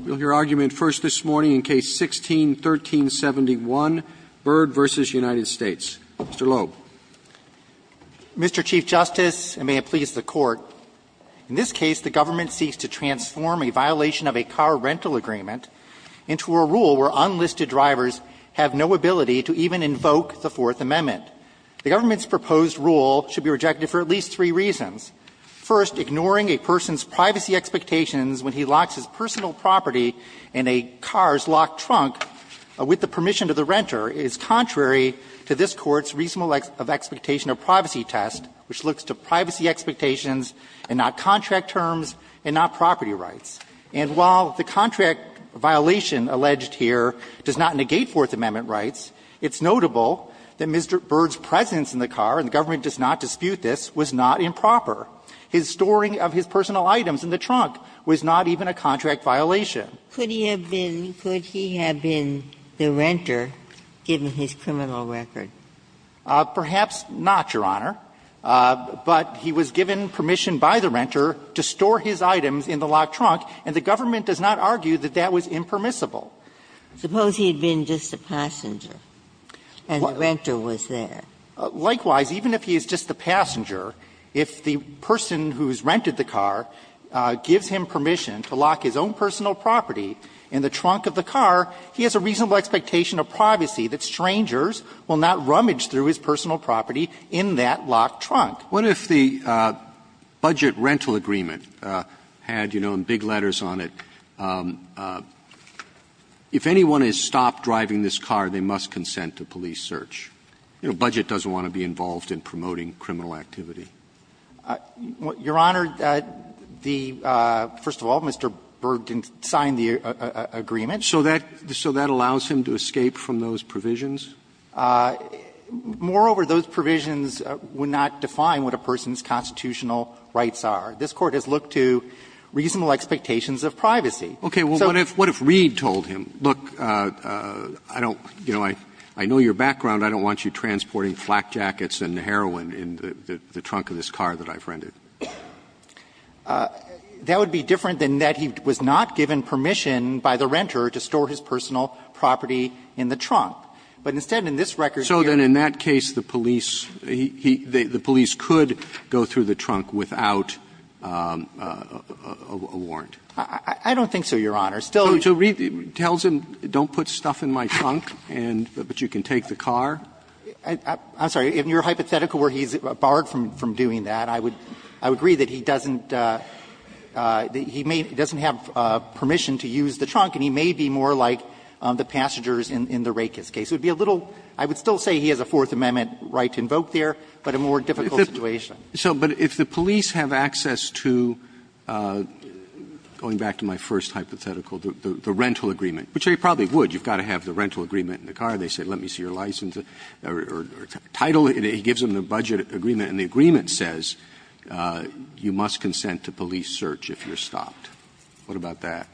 Mr. Loeb Mr. Chief Justice, and may it please the Court, in this case, the government seeks to transform a violation of a car rental agreement into a rule where unlisted drivers have no ability to even invoke the Fourth Amendment. The government's proposed rule should be rejected for at least three reasons. First, ignoring a person's privacy expectations when he locks his personal property in a car's locked trunk with the permission of the renter is contrary to this Court's reasonable expectation of privacy test, which looks to privacy expectations and not contract terms and not property rights. And while the contract violation alleged here does not negate Fourth Amendment rights, it's notable that Mr. Byrd's presence in the car, and the government does not dispute this, was not improper. His storing of his personal items in the trunk was not even a contract violation. Ginsburg-McGillivray Could he have been the renter, given his criminal record? Perhaps not, Your Honor, but he was given permission by the renter to store his items in the locked trunk, and the government does not argue that that was impermissible. Suppose he had been just a passenger and the renter was there. Likewise, even if he is just a passenger, if the person who has rented the car gives him permission to lock his own personal property in the trunk of the car, he has a reasonable expectation of privacy that strangers will not rummage through his personal property in that locked trunk. Roberts. What if the budget rental agreement had, you know, in big letters on it, if anyone has stopped driving this car, they must consent to police search? You know, budget doesn't want to be involved in promoting criminal activity. Goldstein, Your Honor, the — first of all, Mr. Berg didn't sign the agreement. So that allows him to escape from those provisions? Moreover, those provisions would not define what a person's constitutional rights are. This Court has looked to reasonable expectations of privacy. Okay. Well, what if Reed told him, look, I don't — you know, I know your background. I don't want you transporting flak jackets and heroin in the trunk of this car that I've rented. That would be different than that he was not given permission by the renter to store his personal property in the trunk. But instead, in this record here — So then in that case, the police — he — the police could go through the trunk without a warrant? I don't think so, Your Honor. Still — So Reed tells him, don't put stuff in my trunk, and — but you can take the car? I'm sorry. In your hypothetical where he's barred from doing that, I would agree that he doesn't — that he may — doesn't have permission to use the trunk, and he may be more like the passengers in the Rakes case. It would be a little — I would still say he has a Fourth Amendment right to invoke there, but a more difficult situation. So — but if the police have access to, going back to my first hypothetical, the rental agreement, which they probably would. You've got to have the rental agreement in the car. They say, let me see your license or title. He gives them the budget agreement, and the agreement says you must consent to police search if you're stopped. What about that?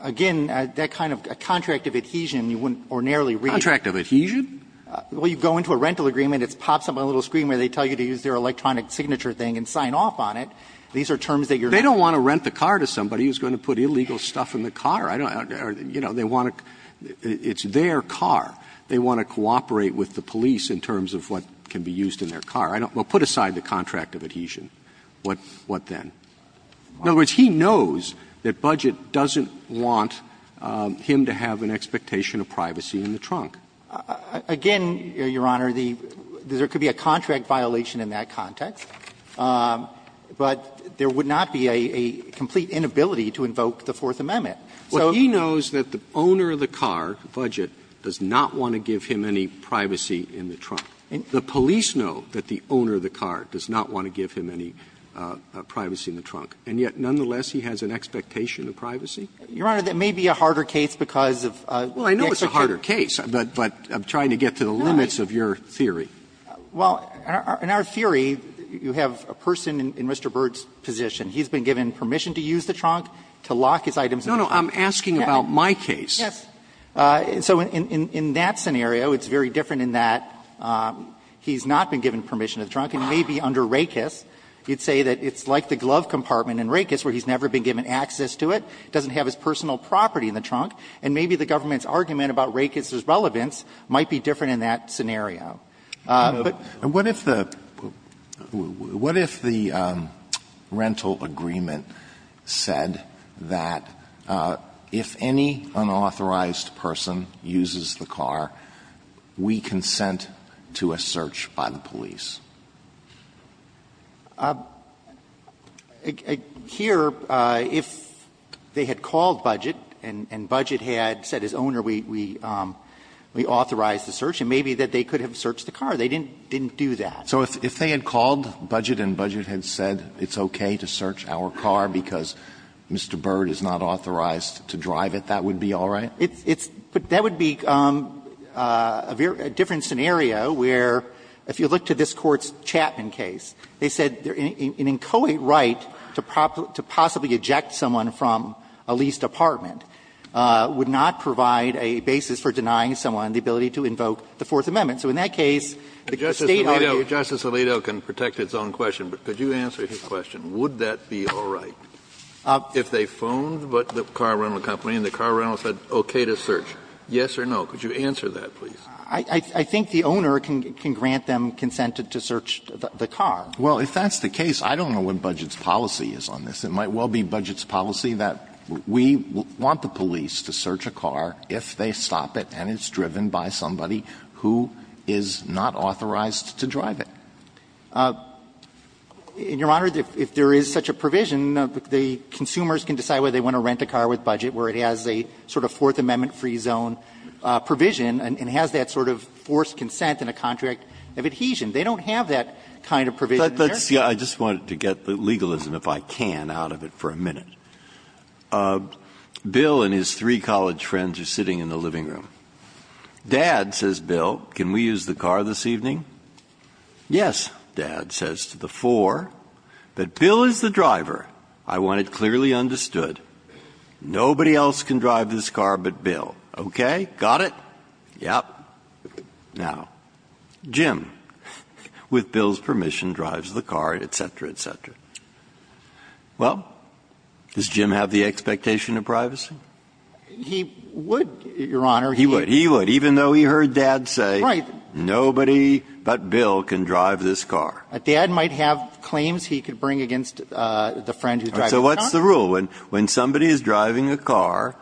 Again, that kind of contract of adhesion, you wouldn't ordinarily read. Contract of adhesion? Well, you go into a rental agreement, it pops up on a little screen where they tell you to use their electronic signature thing and sign off on it. These are terms that you're not going to use. They don't want to rent the car to somebody who's going to put illegal stuff in the I don't — or, you know, they want to — it's their car. They want to cooperate with the police in terms of what can be used in their car. I don't — well, put aside the contract of adhesion. What then? In other words, he knows that budget doesn't want him to have an expectation of privacy in the trunk. Again, Your Honor, the — there could be a contract violation in that context, but there would not be a complete inability to invoke the Fourth Amendment. So he knows that the owner of the car, the budget, does not want to give him any privacy in the trunk. The police know that the owner of the car does not want to give him any privacy in the trunk, and yet, nonetheless, he has an expectation of privacy? Well, I know it's a harder case, but I'm trying to get to the limits of your theory. Well, in our theory, you have a person in Mr. Byrd's position. He's been given permission to use the trunk, to lock his items in the trunk. No, no. I'm asking about my case. Yes. So in that scenario, it's very different in that he's not been given permission in the trunk, and maybe under Rakes, you'd say that it's like the glove compartment in Rakes where he's never been given access to it, doesn't have his personal property in the trunk, and maybe the government's argument about Rakes' relevance might be different in that scenario. But what if the rental agreement said that if any unauthorized person uses the car, we consent to a search by the police? Here, if they had called Budget, and Budget had said, as owner, we authorize the search, and maybe that they could have searched the car, they didn't do that. So if they had called Budget and Budget had said, it's okay to search our car because Mr. Byrd is not authorized to drive it, that would be all right? It's – but that would be a different scenario where, if you look to this Court's Chapman case, they said an inchoate right to possibly eject someone from a leased apartment would not provide a basis for denying someone the ability to invoke the Fourth Amendment. So in that case, the State argued the State argued the State argued the State argued the Fourth Amendment. Kennedy, Justice Alito can protect its own question, but could you answer his question? Would that be all right? If they phoned the car rental company and the car rental said, okay to search, yes or no, could you answer that, please? I think the owner can grant them consent to search the car. Well, if that's the case, I don't know what Budget's policy is on this. It might well be Budget's policy that we want the police to search a car if they stop it and it's driven by somebody who is not authorized to drive it. And, Your Honor, if there is such a provision, the consumers can decide whether they want to rent a car with Budget where it has a sort of Fourth Amendment free zone provision and has that sort of forced consent and a contract of adhesion. They don't have that kind of provision there. Breyer. Breyer. I just wanted to get the legalism, if I can, out of it for a minute. Bill and his three college friends are sitting in the living room. Dad says, Bill, can we use the car this evening? Yes, Dad says to the four, but Bill is the driver. I want it clearly understood. Nobody else can drive this car but Bill. Okay? Got it? Yep. Now, Jim, with Bill's permission, drives the car, et cetera, et cetera. Well, does Jim have the expectation of privacy? He would, Your Honor. He would. He would, even though he heard Dad say nobody. But Bill can drive this car. Dad might have claims he could bring against the friend who drives the car. So what's the rule? When somebody is driving a car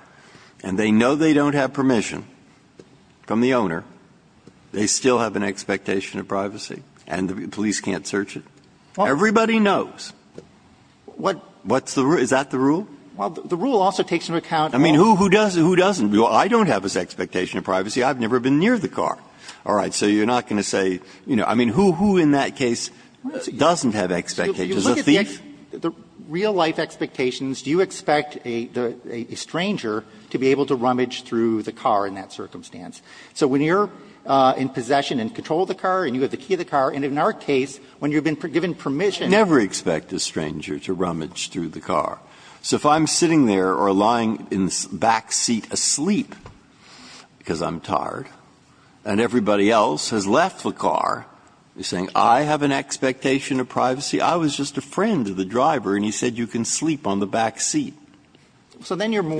and they know they don't have permission from the owner, they still have an expectation of privacy and the police can't search it? Everybody knows. What's the rule? Is that the rule? Well, the rule also takes into account. I mean, who doesn't? I don't have this expectation of privacy. I've never been near the car. All right. So you're not going to say, you know, I mean, who in that case doesn't have expectations? A thief? If you look at the real life expectations, do you expect a stranger to be able to rummage through the car in that circumstance? So when you're in possession and control the car and you have the key to the car, and in our case, when you've been given permission. I never expect a stranger to rummage through the car. So if I'm sitting there or lying in the back seat asleep because I'm tired and everybody else has left the car, you're saying I have an expectation of privacy? I was just a friend of the driver and he said you can sleep on the back seat. So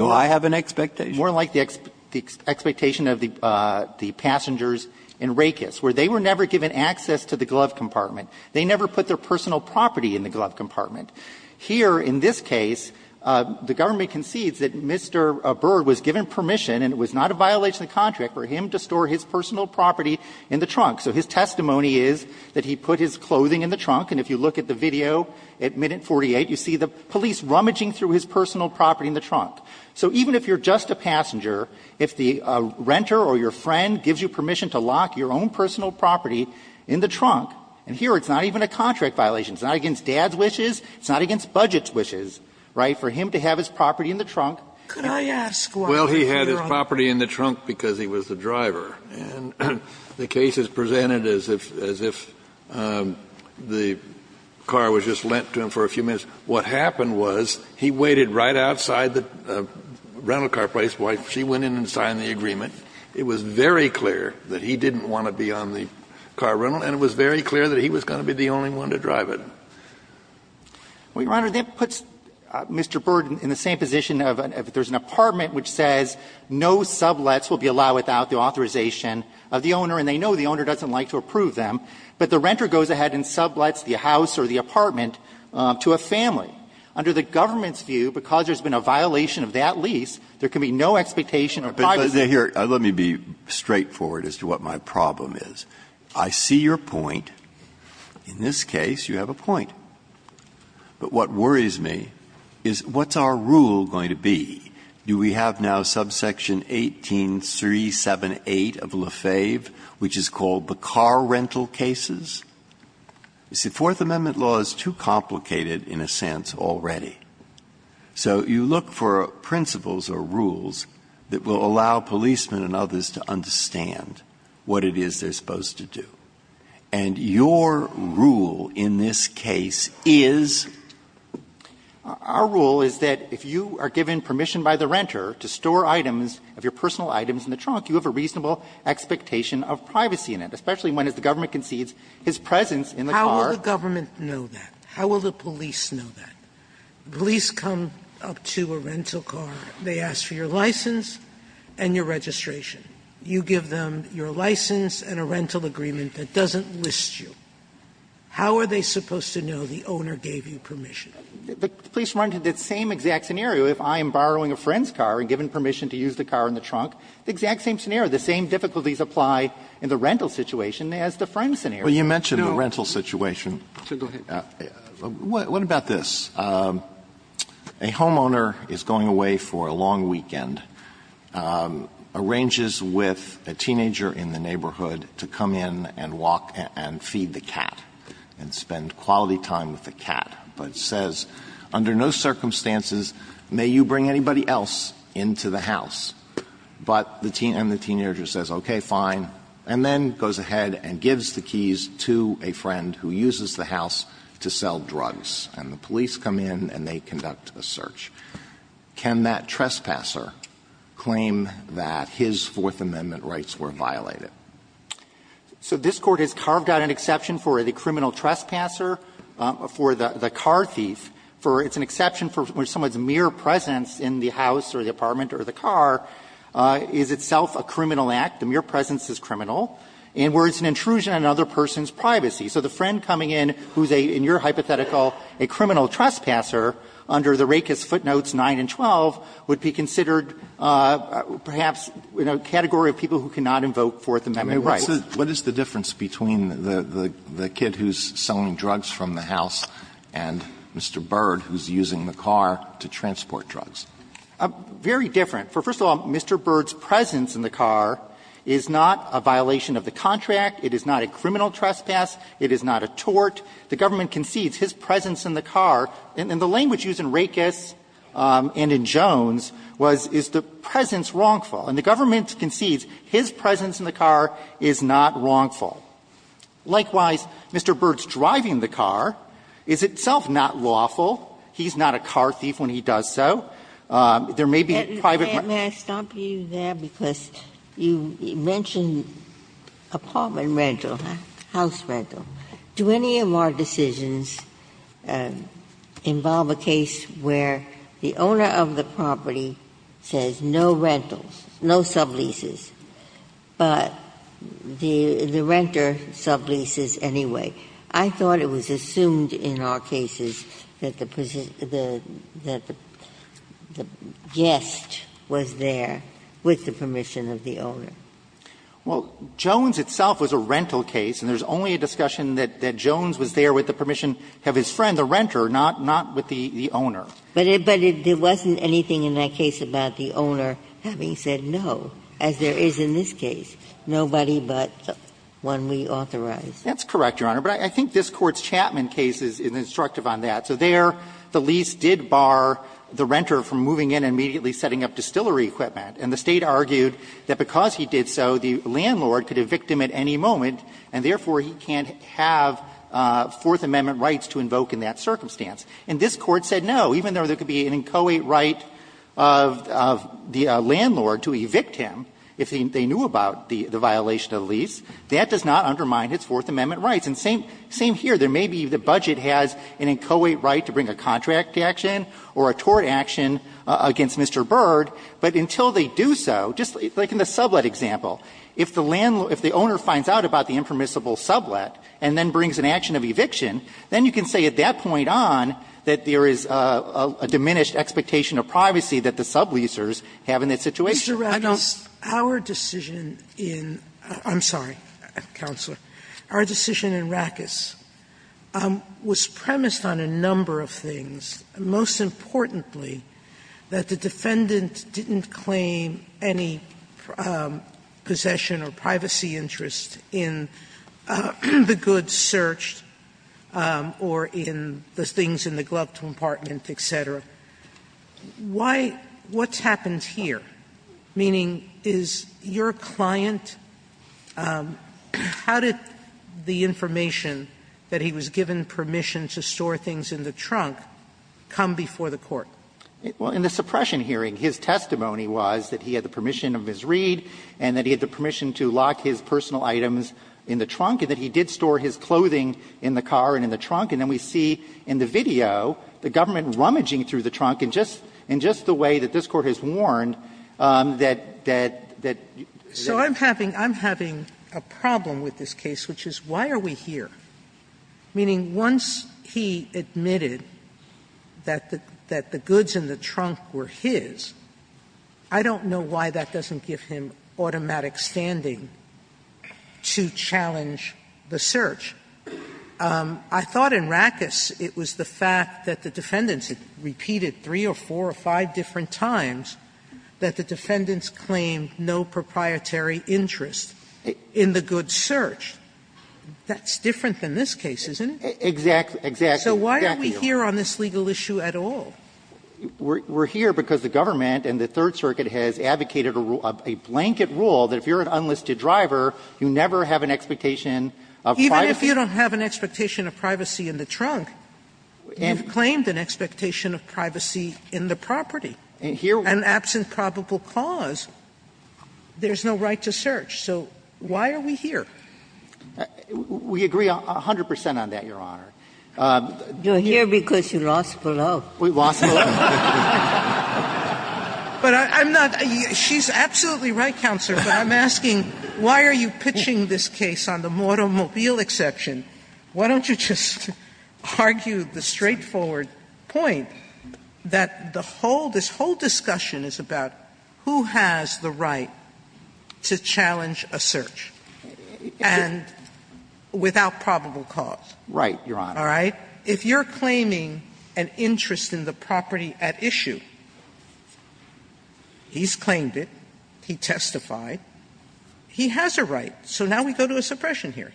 I have an expectation. More like the expectation of the passengers in Rakes, where they were never given access to the glove compartment. They never put their personal property in the glove compartment. Here, in this case, the government concedes that Mr. Byrd was given permission and it was not a violation of the contract for him to store his personal property in the trunk. So his testimony is that he put his clothing in the trunk, and if you look at the video at minute 48, you see the police rummaging through his personal property in the trunk. So even if you're just a passenger, if the renter or your friend gives you permission to lock your own personal property in the trunk, and here it's not even a contract violation, it's not against dad's wishes, it's not against budget's wishes, right, for him to have his property in the trunk. Sotomayor, could I ask why? Kennedy, Well, he had his property in the trunk because he was the driver. And the case is presented as if the car was just lent to him for a few minutes. What happened was he waited right outside the rental car place while she went in and signed the agreement. It was very clear that he didn't want to be on the car rental, and it was very clear that he was going to be the only one to drive it. Well, Your Honor, that puts Mr. Byrd in the same position of if there's an apartment which says no sublets will be allowed without the authorization of the owner, and they know the owner doesn't like to approve them, but the renter goes ahead and sublets the house or the apartment to a family. Under the government's view, because there's been a violation of that lease, there can be no expectation of privacy. Breyer, here, let me be straightforward as to what my problem is. I see your point. In this case, you have a point. But what worries me is what's our rule going to be? Do we have now subsection 18378 of Lefebvre, which is called the car rental cases? You see, Fourth Amendment law is too complicated, in a sense, already. So you look for principles or rules that will allow policemen and others to understand what it is they're supposed to do. And your rule in this case is? Our rule is that if you are given permission by the renter to store items of your personal items in the trunk, you have a reasonable expectation of privacy in it, especially when, as the government concedes, his presence in the car. How will the government know that? How will the police know that? Police come up to a rental car, they ask for your license and your registration. You give them your license and a rental agreement that doesn't list you. How are they supposed to know the owner gave you permission? But the police run to the same exact scenario if I am borrowing a friend's car and given permission to use the car in the trunk, the exact same scenario. The same difficulties apply in the rental situation as the friend scenario. Alito, you mentioned the rental situation. What about this? A homeowner is going away for a long weekend, arranges with a teenager in the neighborhood to come in and walk and feed the cat and spend quality time with the cat, but says, under no circumstances may you bring anybody else into the house. But the teenager says, okay, fine, and then goes ahead and gives the keys to a friend who uses the house to sell drugs. And the police come in and they conduct a search. Can that trespasser claim that his Fourth Amendment rights were violated? So this Court has carved out an exception for the criminal trespasser, for the car thief, for it's an exception for someone's mere presence in the house or the apartment or the car is itself a criminal act, the mere presence is criminal, and where it's an intrusion on another person's privacy. So the friend coming in who's a, in your hypothetical, a criminal trespasser under the Rakes footnotes 9 and 12 would be considered perhaps in a category of people who cannot invoke Fourth Amendment rights. Alito, what is the difference between the kid who's selling drugs from the house and Mr. Byrd who's using the car to transport drugs? Very different. First of all, Mr. Byrd's presence in the car is not a violation of the contract. It is not a criminal trespass. It is not a tort. The government concedes his presence in the car, and the language used in Rakes and in Jones was, is the presence wrongful. And the government concedes his presence in the car is not wrongful. Likewise, Mr. Byrd's driving the car is itself not lawful. He's not a car thief when he does so. There may be private privacy. I brought you there because you mentioned apartment rental, house rental. Do any of our decisions involve a case where the owner of the property says no rentals, no subleases, but the renter subleases anyway? I thought it was assumed in our cases that the guest was there with the permission of the owner. Well, Jones itself was a rental case, and there's only a discussion that Jones was there with the permission of his friend, the renter, not with the owner. But it wasn't anything in that case about the owner having said no, as there is in this case, nobody but the one we authorized. That's correct, Your Honor. But I think this Court's Chapman case is instructive on that. So there the lease did bar the renter from moving in and immediately setting up distillery equipment, and the State argued that because he did so, the landlord could evict him at any moment, and therefore, he can't have Fourth Amendment rights to invoke in that circumstance. And this Court said no, even though there could be an inchoate right of the landlord to evict him if they knew about the violation of the lease, that does not undermine his Fourth Amendment rights. And same here. There may be the budget has an inchoate right to bring a contract action or a tort action against Mr. Byrd, but until they do so, just like in the sublet example, if the owner finds out about the impermissible sublet and then brings an action of eviction, then you can say at that point on that there is a diminished expectation of privacy that the subleasers have in that situation. Sotomayor, Mr. Rakus, our decision in the reception area inSOFA, I'm sorry, Counselor our decision in Rakus was premised on a number of things, most importantly that the defendant didn't claim any possession of privacy interest in the goods searched or in those things in the glove compartment, etc. Why? What's happened here? Meaning, is your client – how did the information that he was given permission to store things in the trunk come before the court? Well, in the suppression hearing, his testimony was that he had the permission of his read and that he had the permission to lock his personal items in the trunk and that he did store his clothing in the car and in the trunk. And then we see in the video the government rummaging through the trunk and just the way that this Court has warned that – that – that – So I'm having – I'm having a problem with this case, which is, why are we here? Meaning, once he admitted that the goods in the trunk were his, I don't know why that doesn't give him automatic standing to challenge the search. I thought in Rakus it was the fact that the defendants repeated three or four or five different times that the defendants claimed no proprietary interest in the goods searched. That's different than this case, isn't it? Exactly. Exactly. So why are we here on this legal issue at all? We're here because the government and the Third Circuit has advocated a blanket rule that if you're an unlisted driver, you never have an expectation of privacy. If you're an unlisted driver, you never have an expectation of privacy in the property. And absent probable cause, there's no right to search. So why are we here? We agree 100 percent on that, Your Honor. You're here because you lost the law. We lost the law. But I'm not – she's absolutely right, Counselor, but I'm asking, why are you pitching this case on the automobile exception? Why don't you just argue the straightforward point that the whole – this whole discussion is about who has the right to challenge a search and without probable cause. Right, Your Honor. All right? If you're claiming an interest in the property at issue, he's claimed it, he testified, he has a right. So now we go to a suppression hearing.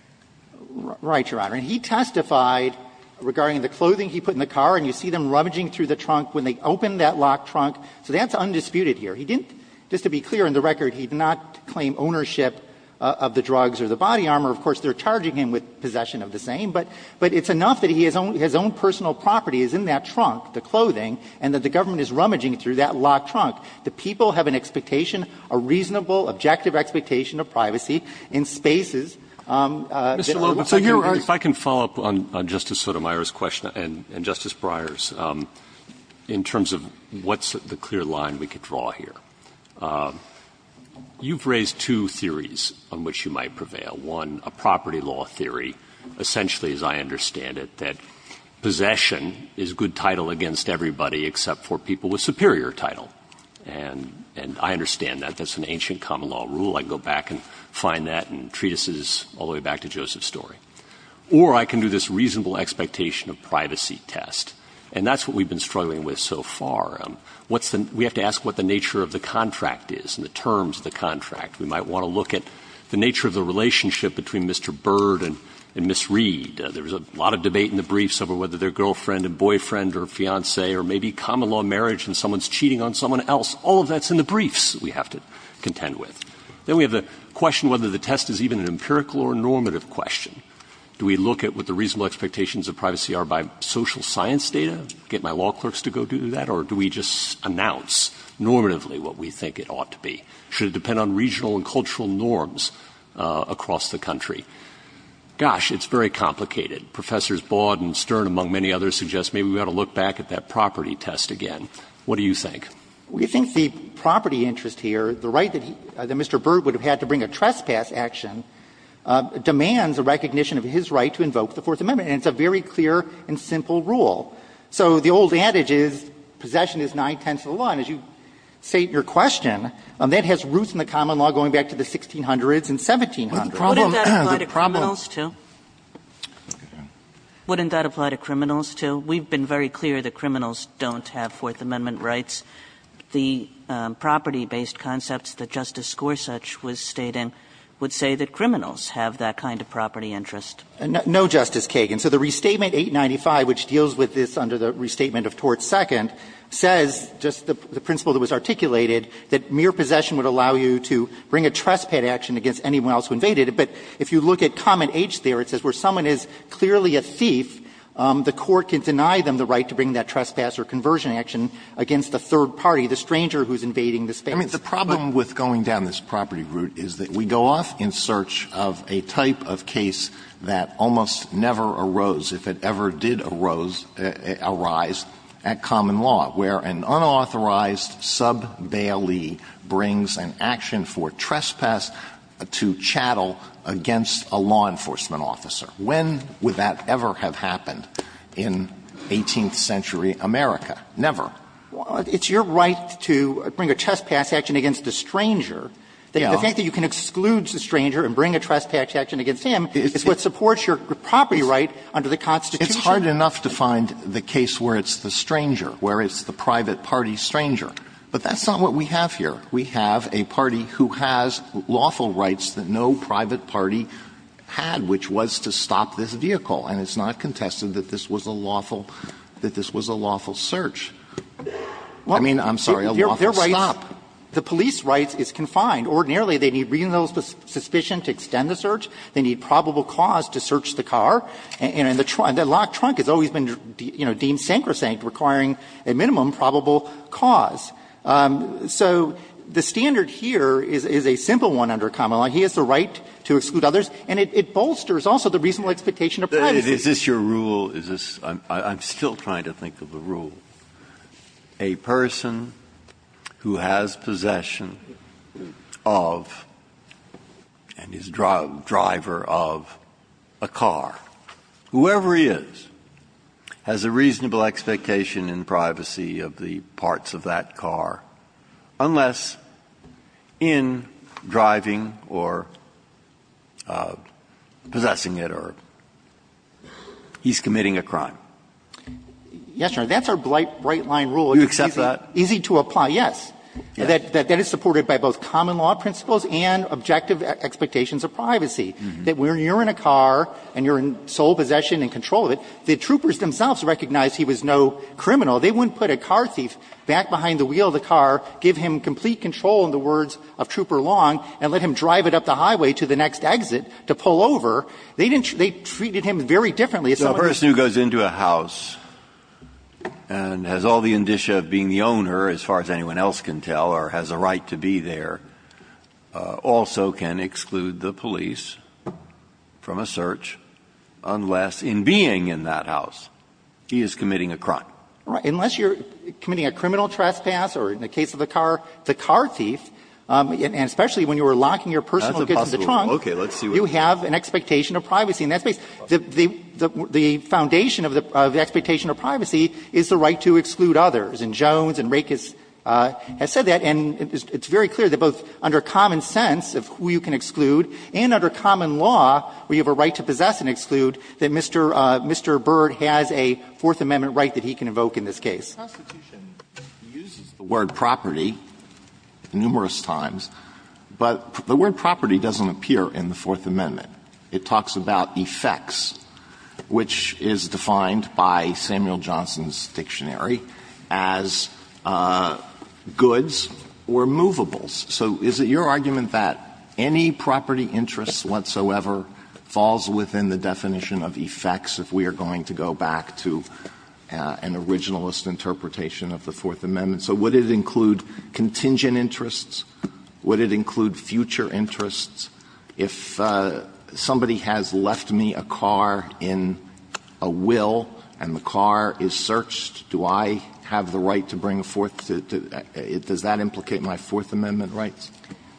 Right. And he testified regarding the clothing he put in the car, and you see them rummaging through the trunk when they open that locked trunk. So that's undisputed here. He didn't – just to be clear, on the record, he did not claim ownership of the drugs or the body armor. Of course, they're charging him with possession of the same, but it's enough that he has own – his own personal property is in that trunk, the clothing, and that the government is rummaging through that locked trunk. The people have an expectation, a reasonable, objective expectation of privacy in spaces that are not – If I can follow up on Justice Sotomayor's question, and Justice Breyer's, in terms of what's the clear line we could draw here. You've raised two theories on which you might prevail. One, a property law theory, essentially, as I understand it, that possession is good title against everybody except for people with superior title. And I understand that. That's an ancient common law rule. I can go back and find that in treatises all the way back to Joseph's story. Or I can do this reasonable expectation of privacy test. And that's what we've been struggling with so far. What's the – we have to ask what the nature of the contract is and the terms of the contract. We might want to look at the nature of the relationship between Mr. Byrd and Ms. Reed. There was a lot of debate in the briefs over whether they're girlfriend and boyfriend or fiance or maybe common law marriage and someone's cheating on someone else. All of that's in the briefs we have to contend with. Then we have the question whether the test is even an empirical or normative question. Do we look at what the reasonable expectations of privacy are by social science data, get my law clerks to go do that, or do we just announce normatively what we think it ought to be? Should it depend on regional and cultural norms across the country? Gosh, it's very complicated. Professors Baud and Stern, among many others, suggest maybe we ought to look back at that property test again. What do you think? We think the property interest here, the right that Mr. Byrd would have had to bring a trespass action, demands a recognition of his right to invoke the Fourth Amendment. And it's a very clear and simple rule. So the old adage is possession is nine-tenths of the law. And as you state in your question, that has roots in the common law going back to the 1600s and 1700s. The problem is the problem is that the property interest here is a very clear recognition of his right to invoke the Fourth Amendment. And so, in the case of the property interest, the property-based concepts that Justice Gorsuch was stating would say that criminals have that kind of property interest. No, Justice Kagan. So the Restatement 895, which deals with this under the Restatement of Tort II, says just the principle that was articulated, that mere possession would allow you to bring a trespass action against anyone else who invaded it. But if you look at comment H there, it says where someone is clearly a thief, the thief is against the third party, the stranger who's invading the space. I mean, the problem with going down this property route is that we go off in search of a type of case that almost never arose, if it ever did arose, arise, at common law, where an unauthorized sub bailee brings an action for trespass to chattel against a law enforcement officer. When would that ever have happened in 18th century America? Never. It's your right to bring a trespass action against a stranger. The fact that you can exclude the stranger and bring a trespass action against him is what supports your property right under the Constitution. It's hard enough to find the case where it's the stranger, where it's the private party stranger. But that's not what we have here. We have a party who has lawful rights that no private party had, which was to stop this vehicle, and it's not contested that this was a lawful, that this was a lawful search. I mean, I'm sorry, a lawful stop. The police rights is confined. Ordinarily, they need reasonable suspicion to extend the search. They need probable cause to search the car. And the locked trunk has always been deemed sacrosanct, requiring a minimum probable cause. So the standard here is a simple one under common law. He has the right to exclude others, and it bolsters also the reasonable expectation of privacy. Breyer. Is this your rule? Is this – I'm still trying to think of the rule. A person who has possession of and is driver of a car, whoever he is, has a reasonable expectation in privacy of the parts of that car, unless in driving or possessing it, or he's committing a crime. Yes, Your Honor, that's our bright-line rule. Do you accept that? Easy to apply, yes. That is supported by both common law principles and objective expectations of privacy, that when you're in a car and you're in sole possession and control of it, the troopers themselves recognize he was no criminal. They wouldn't put a car thief back behind the wheel of the car, give him complete control in the words of Trooper Long, and let him drive it up the highway to the next exit to pull over. They didn't – they treated him very differently. So a person who goes into a house and has all the indicia of being the owner, as far as anyone else can tell, or has a right to be there, also can exclude the police from a search, unless in being in that house he is committing a crime. Unless you're committing a criminal trespass or, in the case of the car, the car thief, and especially when you were locking your personal goods in the trunk, you have an expectation of privacy. And that's basically the foundation of the expectation of privacy is the right to exclude others. And Jones and Rakus have said that, and it's very clear that both under common sense of who you can exclude and under common law, where you have a right to possess and exclude, that Mr. Bird has a Fourth Amendment right that he can invoke in this case. Alitoson uses the word property numerous times, but the word property doesn't appear in the Fourth Amendment. It talks about effects, which is defined by Samuel Johnson's dictionary as goods or movables. So is it your argument that any property interest whatsoever falls within the definition of effects if we are going to go back to an originalist interpretation of the Fourth Amendment? So would it include contingent interests? Would it include future interests? If somebody has left me a car in a will and the car is searched, do I have the right to bring a Fourth to the does that implicate my Fourth Amendment rights?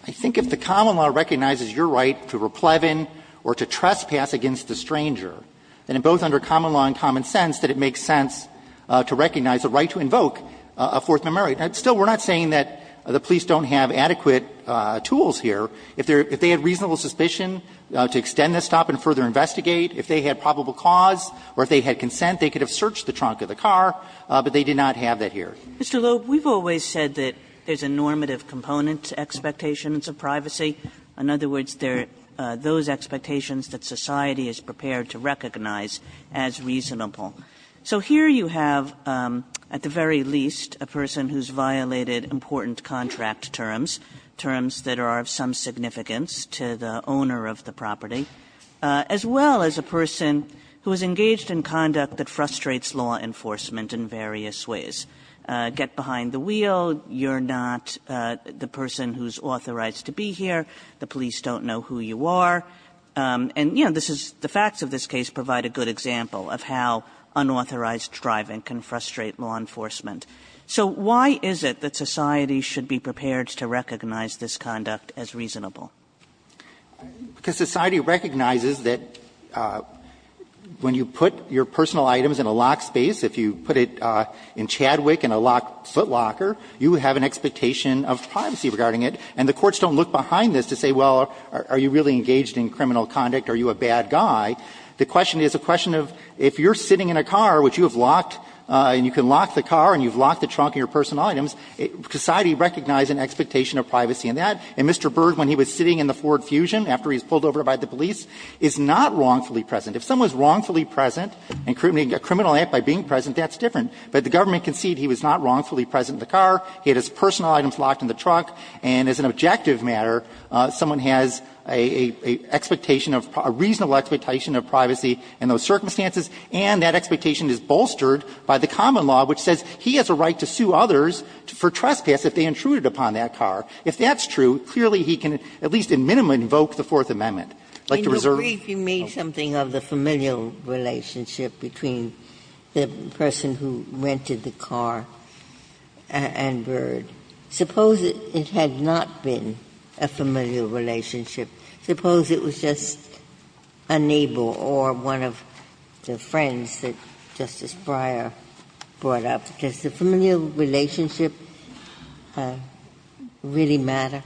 I think if the common law recognizes your right to repleven or to trespass against a stranger, then both under common law and common sense, that it makes sense to recognize the right to invoke a Fourth Amendment right. And still, we're not saying that the police don't have adequate tools here. If they had reasonable suspicion to extend the stop and further investigate, if they had probable cause or if they had consent, they could have searched the trunk of the car, but they did not have that here. Kagan, Mr. Loeb, we've always said that there's a normative component to expectations of privacy. In other words, there are those expectations that society is prepared to recognize as reasonable. So here you have, at the very least, a person who's violated important contract terms, terms that are of some significance to the owner of the property, as well as a person who is engaged in conduct that frustrates law enforcement in various ways. Get behind the wheel, you're not the person who's authorized to be here, the police don't know who you are. And, you know, this is the facts of this case provide a good example of how unauthorized driving can frustrate law enforcement. So why is it that society should be prepared to recognize this conduct as reasonable? Because society recognizes that when you put your personal items in a locked space, if you put it in Chadwick in a locked footlocker, you have an expectation of privacy regarding it, and the courts don't look behind this to say, well, are you really engaged in criminal conduct, are you a bad guy? The question is a question of if you're sitting in a car which you have locked and you can lock the car and you've locked the trunk of your personal items, society recognizes an expectation of privacy in that. And Mr. Berg, when he was sitting in the Ford Fusion after he was pulled over by the police, is not wrongfully present. If someone is wrongfully present and committing a criminal act by being present, that's different. But the government conceded he was not wrongfully present in the car, he had his personal items in the trunk of the car, he was not wrongfully present in the car. if you have a private matter, someone has a expectation of a reasonable expectation of privacy in those circumstances, and that expectation is bolstered by the common law, which says he has a right to sue others for trespass if they intruded upon that car. If that's true, clearly he can at least in minima invoke the Fourth Amendment. Like to reserve. Ginsburg, you made something of the familial relationship between the person who rented the car and Berg. Suppose it had not been a familial relationship. Suppose it was just a neighbor or one of the friends that Justice Breyer brought up. Does the familial relationship really matter?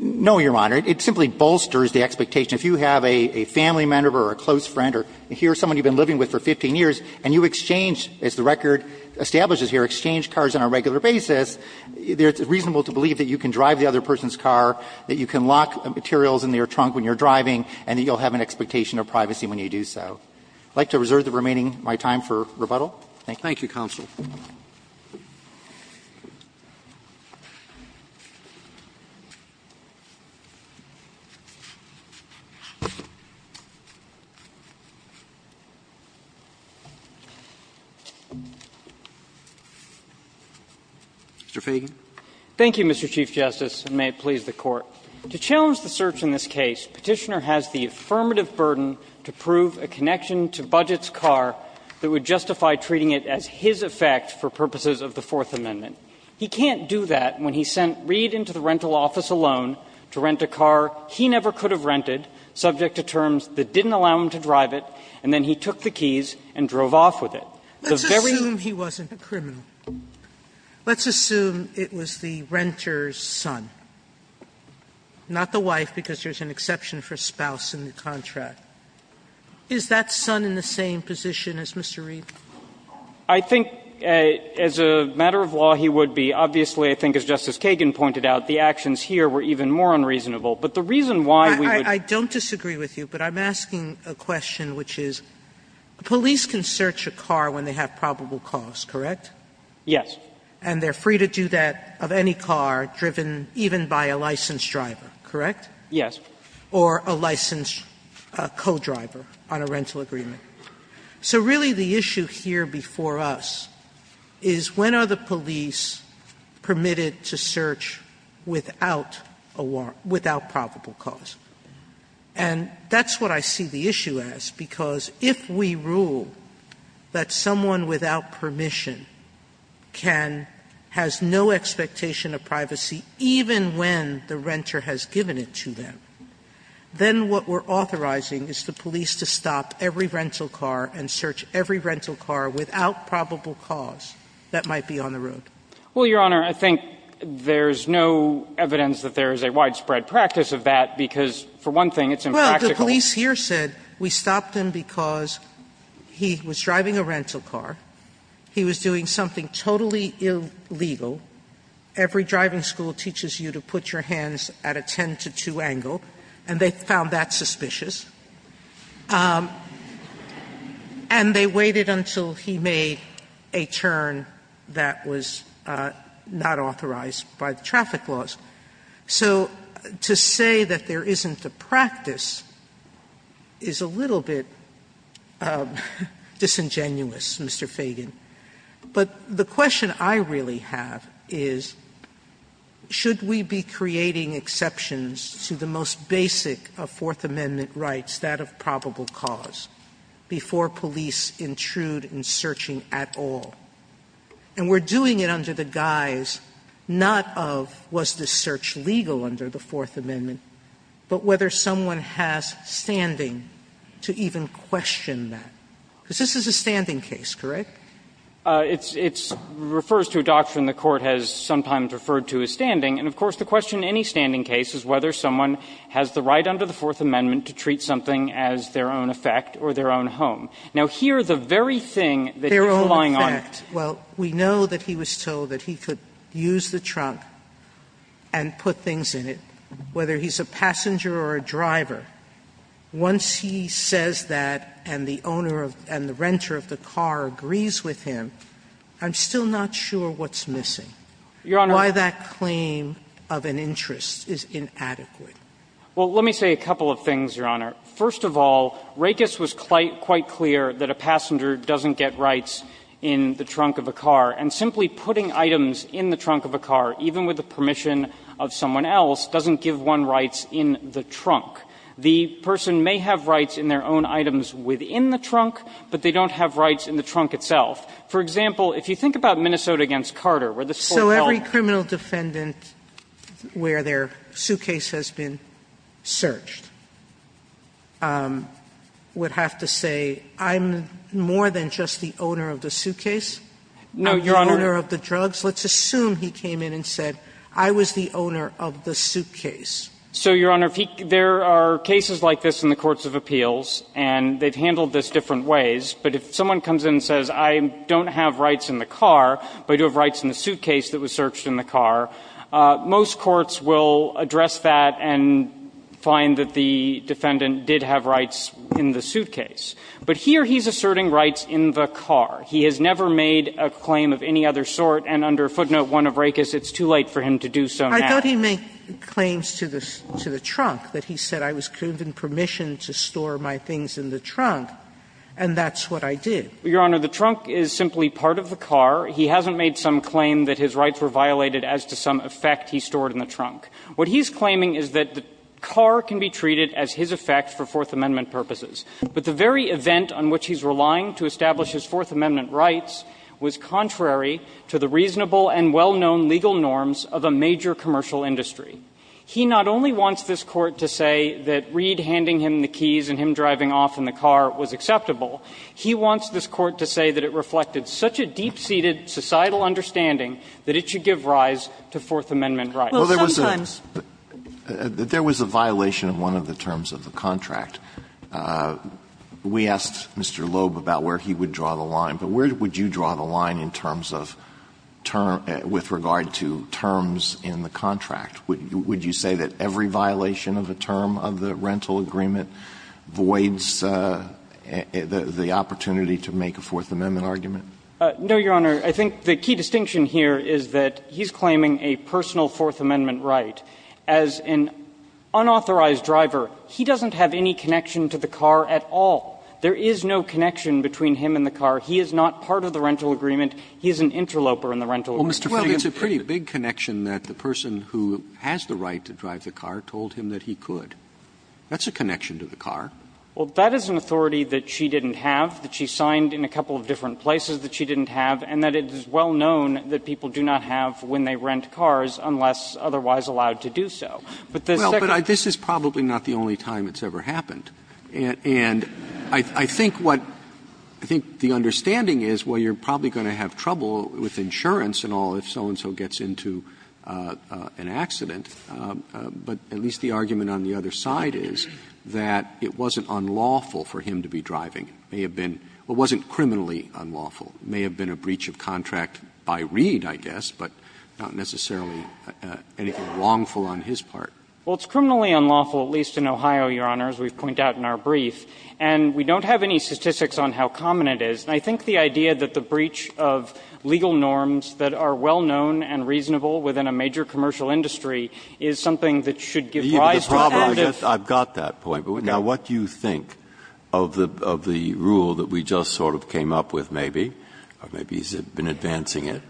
No, Your Honor. It simply bolsters the expectation. If you have a family member or a close friend or here's someone you've been living with for 15 years and you exchange, as the record establishes here, exchange cars on a regular basis, it's reasonable to believe that you can drive the other person's car, that you can lock materials in their trunk when you're driving, and that you'll have an expectation of privacy when you do so. I'd like to reserve the remaining of my time for rebuttal. Thank you. Roberts. Thank you, counsel. Mr. Feigin. Thank you, Mr. Chief Justice, and may it please the Court. To challenge the search in this case, Petitioner has the affirmative burden to prove a connection to Budgett's car that would justify treating it as his effect for purposes of the Fourth Amendment. He can't do that when he sent Reed into the rental office alone to rent a car he never could have rented, subject to terms that didn't allow him to drive it, and then he took the keys and drove off with it. The very ---- Sotomayor, let's assume he wasn't a criminal. Let's assume it was the renter's son, not the wife, because there's an exception for spouse in the contract. Is that son in the same position as Mr. Reed? I think as a matter of law he would be. Obviously, I think as Justice Kagan pointed out, the actions here were even more unreasonable. But the reason why we would ---- I don't disagree with you, but I'm asking a question which is, police can search a car when they have probable cause, correct? Yes. And they're free to do that of any car driven even by a licensed driver, correct? Yes. Or a licensed co-driver on a rental agreement. So really the issue here before us is when are the police permitted to search without a warrant, without probable cause? And that's what I see the issue as, because if we rule that someone without permission can, has no expectation of privacy even when the renter has given it to them, then what we're authorizing is the police to stop every rental car and search every rental car without probable cause that might be on the road. Well, Your Honor, I think there's no evidence that there is a widespread practice of that, because for one thing it's impractical. Well, the police here said we stopped him because he was driving a rental car, he was doing something totally illegal. Every driving school teaches you to put your hands at a 10-to-2 angle, and they found that suspicious. And they waited until he made a turn that was not authorized by the traffic laws. So to say that there isn't a practice is a little bit disingenuous, Mr. Fagan. But the question I really have is, should we be creating exceptions to the most basic of Fourth Amendment rights, that of probable cause, before police intrude in searching at all? And we're doing it under the guise not of, was the search legal under the Fourth Amendment, but whether someone has standing to even question that. Because this is a standing case, correct? It's – it refers to a doctrine the Court has sometimes referred to as standing. And, of course, the question in any standing case is whether someone has the right under the Fourth Amendment to treat something as their own effect or their own home. Now, here, the very thing that he's relying on to do is to say, well, we know that he was told that he could use the trunk and put things in it, whether he's a passenger or a driver. Once he says that and the owner of – and the renter of the car agrees with him, I'm still not sure what's missing, why that claim of an interest is inadequate. Well, let me say a couple of things, Your Honor. First of all, Rakes was quite clear that a passenger doesn't get rights in the trunk of a car, and simply putting items in the trunk of a car, even with the permission of someone else, doesn't give one rights in the trunk. The person may have rights in their own items within the trunk, but they don't have rights in the trunk itself. For example, if you think about Minnesota v. Carter, where this Court held that the owner of the suitcase was the owner of the suitcase, the owner of the drugs, let's assume he came in and said, I was the owner of the suitcase. So, Your Honor, there are cases like this in the courts of appeals, and they've handled this different ways, but if someone comes in and says, I don't have rights in the car, but I do have rights in the suitcase that was searched in the car, most courts will address that and find that the defendant did have rights in the suitcase. But here he's asserting rights in the car. He has never made a claim of any other sort, and under footnote 1 of Rakes, it's too late for him to do so now. Sotomayor, I thought he made claims to the trunk, that he said, I was given permission to store my things in the trunk, and that's what I did. Your Honor, the trunk is simply part of the car. He hasn't made some claim that his rights were violated as to some effect he stored in the trunk. What he's claiming is that the car can be treated as his effect for Fourth Amendment purposes, but the very event on which he's relying to establish his Fourth Amendment rights was contrary to the reasonable and well-known legal norms of a major commercial industry. He not only wants this Court to say that Reed handing him the keys and him driving off in the car was acceptable, he wants this Court to say that it reflected such a deep-seated societal understanding that it should give rise to Fourth Amendment rights. Alito, there was a violation of one of the terms of the contract. We asked Mr. Loeb about where he would draw the line, but where would you draw the line? Would you say that every violation of a term of the rental agreement voids the opportunity to make a Fourth Amendment argument? No, Your Honor. I think the key distinction here is that he's claiming a personal Fourth Amendment right. As an unauthorized driver, he doesn't have any connection to the car at all. There is no connection between him and the car. He is not part of the rental agreement. He is an interloper in the rental agreement. Well, it's a pretty big connection that the person who has the right to drive the car told him that he could. That's a connection to the car. Well, that is an authority that she didn't have, that she signed in a couple of different places that she didn't have, and that it is well known that people do not have when they rent cars unless otherwise allowed to do so. But the second thing is that there is no connection. Well, but this is probably not the only time it's ever happened. And I think what the understanding is, well, you're probably going to have trouble with insurance and all if so-and-so gets into an accident. But at least the argument on the other side is that it wasn't unlawful for him to be driving. It may have been or wasn't criminally unlawful. It may have been a breach of contract by Reed, I guess, but not necessarily anything wrongful on his part. Well, it's criminally unlawful, at least in Ohio, Your Honor, as we've pointed out in our brief. And we don't have any statistics on how common it is. And I think the idea that the breach of legal norms that are well known and reasonable within a major commercial industry is something that should give rise to an anti- Breyer. Breyer. I've got that point. Now, what do you think of the rule that we just sort of came up with maybe, or maybe he's been advancing it?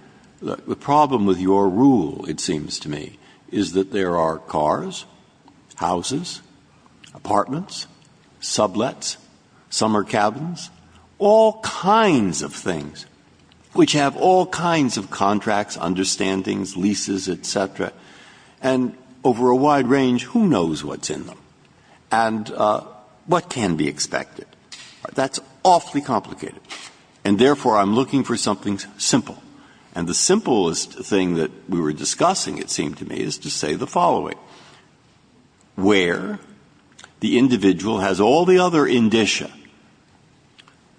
The problem with your rule, it seems to me, is that there are cars, houses, apartments, sublets, summer cabins, all kinds of things, which have all kinds of contracts, understandings, leases, et cetera. And over a wide range, who knows what's in them and what can be expected? That's awfully complicated. And therefore, I'm looking for something simple. And the simplest thing that we were discussing, it seemed to me, is to say the following. Where the individual has all the other indicia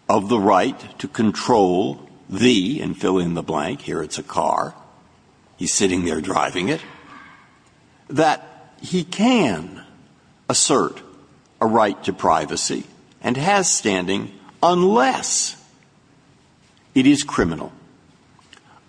of the right to control the, and fill in the blank, here it's a car, he's sitting there driving it, that he can assert a right to privacy and has standing unless it is criminal,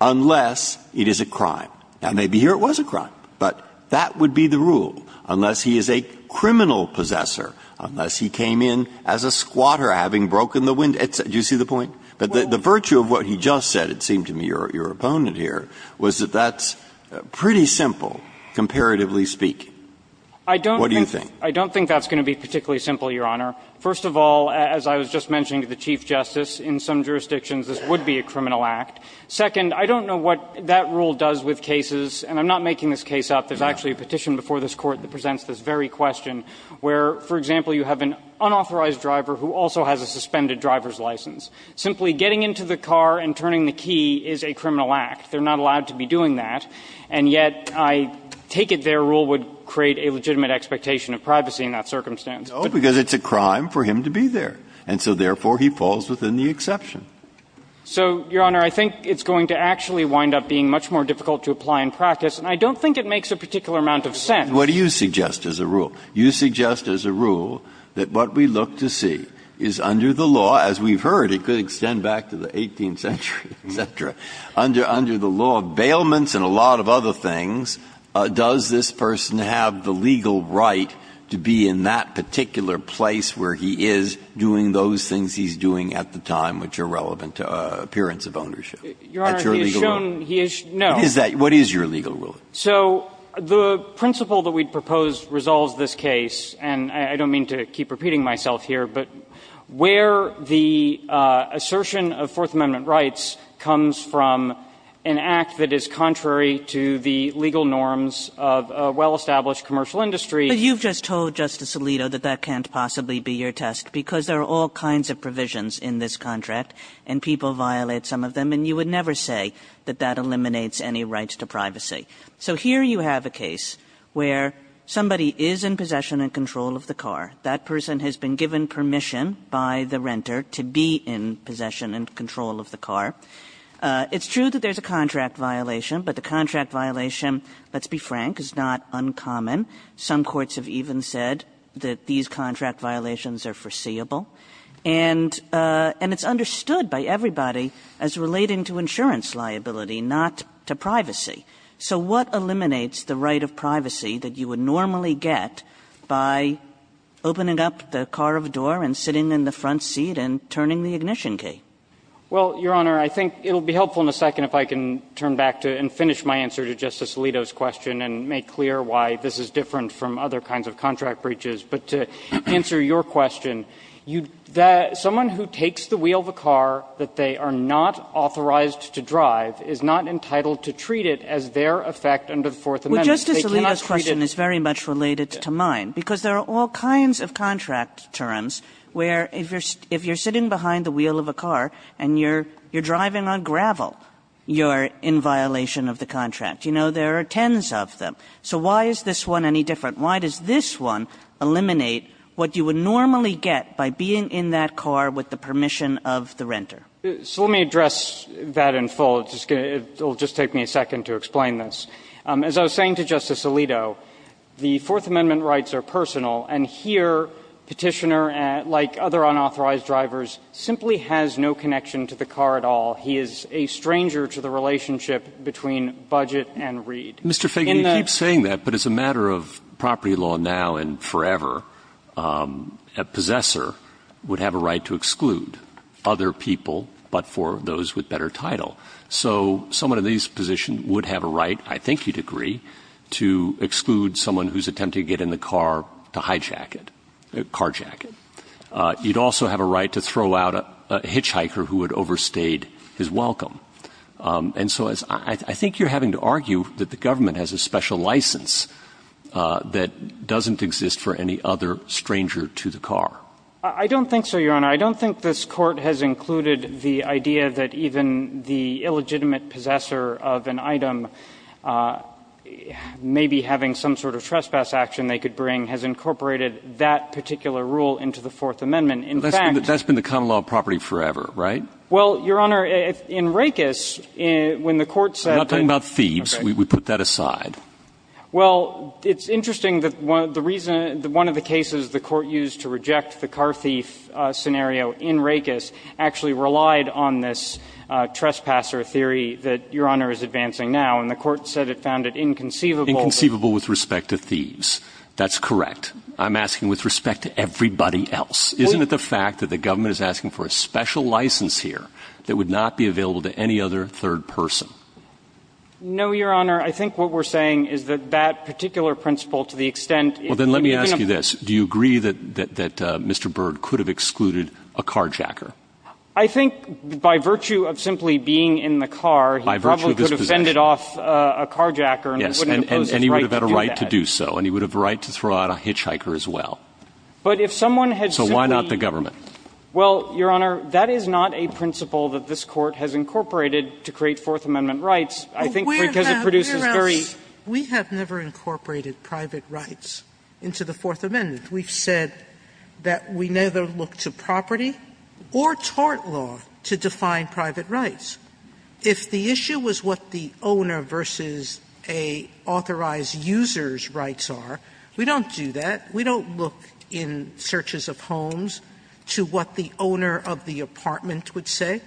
unless it is a crime. Now, maybe here it was a crime, but that would be the rule, unless he is a criminal possessor, unless he came in as a squatter having broken the window, et cetera. Do you see the point? But the virtue of what he just said, it seemed to me, your opponent here, was that that's pretty simple, comparatively speaking. What do you think? I don't think that's going to be particularly simple, Your Honor. First of all, as I was just mentioning to the Chief Justice, in some jurisdictions this would be a criminal act. Second, I don't know what that rule does with cases, and I'm not making this case up, there's actually a petition before this Court that presents this very question, where, for example, you have an unauthorized driver who also has a suspended driver's license. Simply getting into the car and turning the key is a criminal act. They're not allowed to be doing that. And yet, I take it their rule would create a legitimate expectation of privacy in that circumstance. Breyer, because it's a crime for him to be there, and so, therefore, he falls within the exception. So, Your Honor, I think it's going to actually wind up being much more difficult to apply in practice, and I don't think it makes a particular amount of sense. Breyer, what do you suggest as a rule? You suggest as a rule that what we look to see is under the law, as we've heard, it could extend back to the 18th century, et cetera, under the law of bailments and a lot of other things, does this person have the legal right to be in that particular place where he is doing those things he's doing at the time which are relevant to appearance of ownership? That's your legal rule? He has shown he is no. What is that? What is your legal rule? So the principle that we propose resolves this case, and I don't mean to keep repeating myself here, but where the assertion of Fourth Amendment rights comes from an act that is contrary to the legal norms of a well-established commercial industry. But you've just told Justice Alito that that can't possibly be your test because there are all kinds of provisions in this contract, and people violate some of them, and you would never say that that eliminates any right to privacy. So here you have a case where somebody is in possession and control of the car. That person has been given permission by the renter to be in possession and control of the car. It's true that there's a contract violation, but the contract violation, let's be frank, is not uncommon. Some courts have even said that these contract violations are foreseeable. And it's understood by everybody as relating to insurance liability, not to privacy. So what eliminates the right of privacy that you would normally get by opening up the car of a door and sitting in the front seat and turning the ignition key? Well, Your Honor, I think it will be helpful in a second if I can turn back to and make clear why this is different from other kinds of contract breaches. But to answer your question, you – someone who takes the wheel of a car that they are not authorized to drive is not entitled to treat it as their effect under the Fourth Amendment. But Justice Alito's question is very much related to mine, because there are all kinds of contract terms where if you're sitting behind the wheel of a car and you're driving on gravel, you're in violation of the contract. You know, there are tens of them. So why is this one any different? Why does this one eliminate what you would normally get by being in that car with the permission of the renter? So let me address that in full. It will just take me a second to explain this. As I was saying to Justice Alito, the Fourth Amendment rights are personal. And here, Petitioner, like other unauthorized drivers, simply has no connection to the car at all. He is a stranger to the relationship between budget and read. Roberts' Mr. Feigin, you keep saying that, but as a matter of property law now and forever, a possessor would have a right to exclude other people but for those with better title. So someone in this position would have a right, I think you'd agree, to exclude someone who's attempting to get in the car to hijack it, carjack it. You'd also have a right to throw out a hitchhiker who had overstayed his welcome. And so I think you're having to argue that the government has a special license that doesn't exist for any other stranger to the car. I don't think so, Your Honor. I don't think this Court has included the idea that even the illegitimate possessor of an item, maybe having some sort of trespass action they could bring, has incorporated that particular rule into the Fourth Amendment. In fact — But that's been the common law of property forever, right? Well, Your Honor, in Rakeis, when the Court said — I'm not talking about thieves. We put that aside. Well, it's interesting that one of the reasons — one of the cases the Court used to reject the car thief scenario in Rakeis actually relied on this trespasser theory that Your Honor is advancing now. Inconceivable with respect to thieves. That's correct. I'm asking with respect to everybody else. Isn't it the fact that the government is asking for a special license here that would not be available to any other third person? No, Your Honor. I think what we're saying is that that particular principle, to the extent it — Well, then let me ask you this. Do you agree that Mr. Byrd could have excluded a carjacker? I think by virtue of simply being in the car, he probably could have fended off a carjacker and he wouldn't have posed his right to do that. And he would have the right to throw out a hitchhiker as well. But if someone had simply — So why not the government? Well, Your Honor, that is not a principle that this Court has incorporated to create Fourth Amendment rights. I think because it produces very — We have never incorporated private rights into the Fourth Amendment. We've said that we never look to property or tort law to define private rights. If the issue was what the owner versus an authorized user's rights are, we don't do that. We don't look in searches of homes to what the owner of the apartment would say.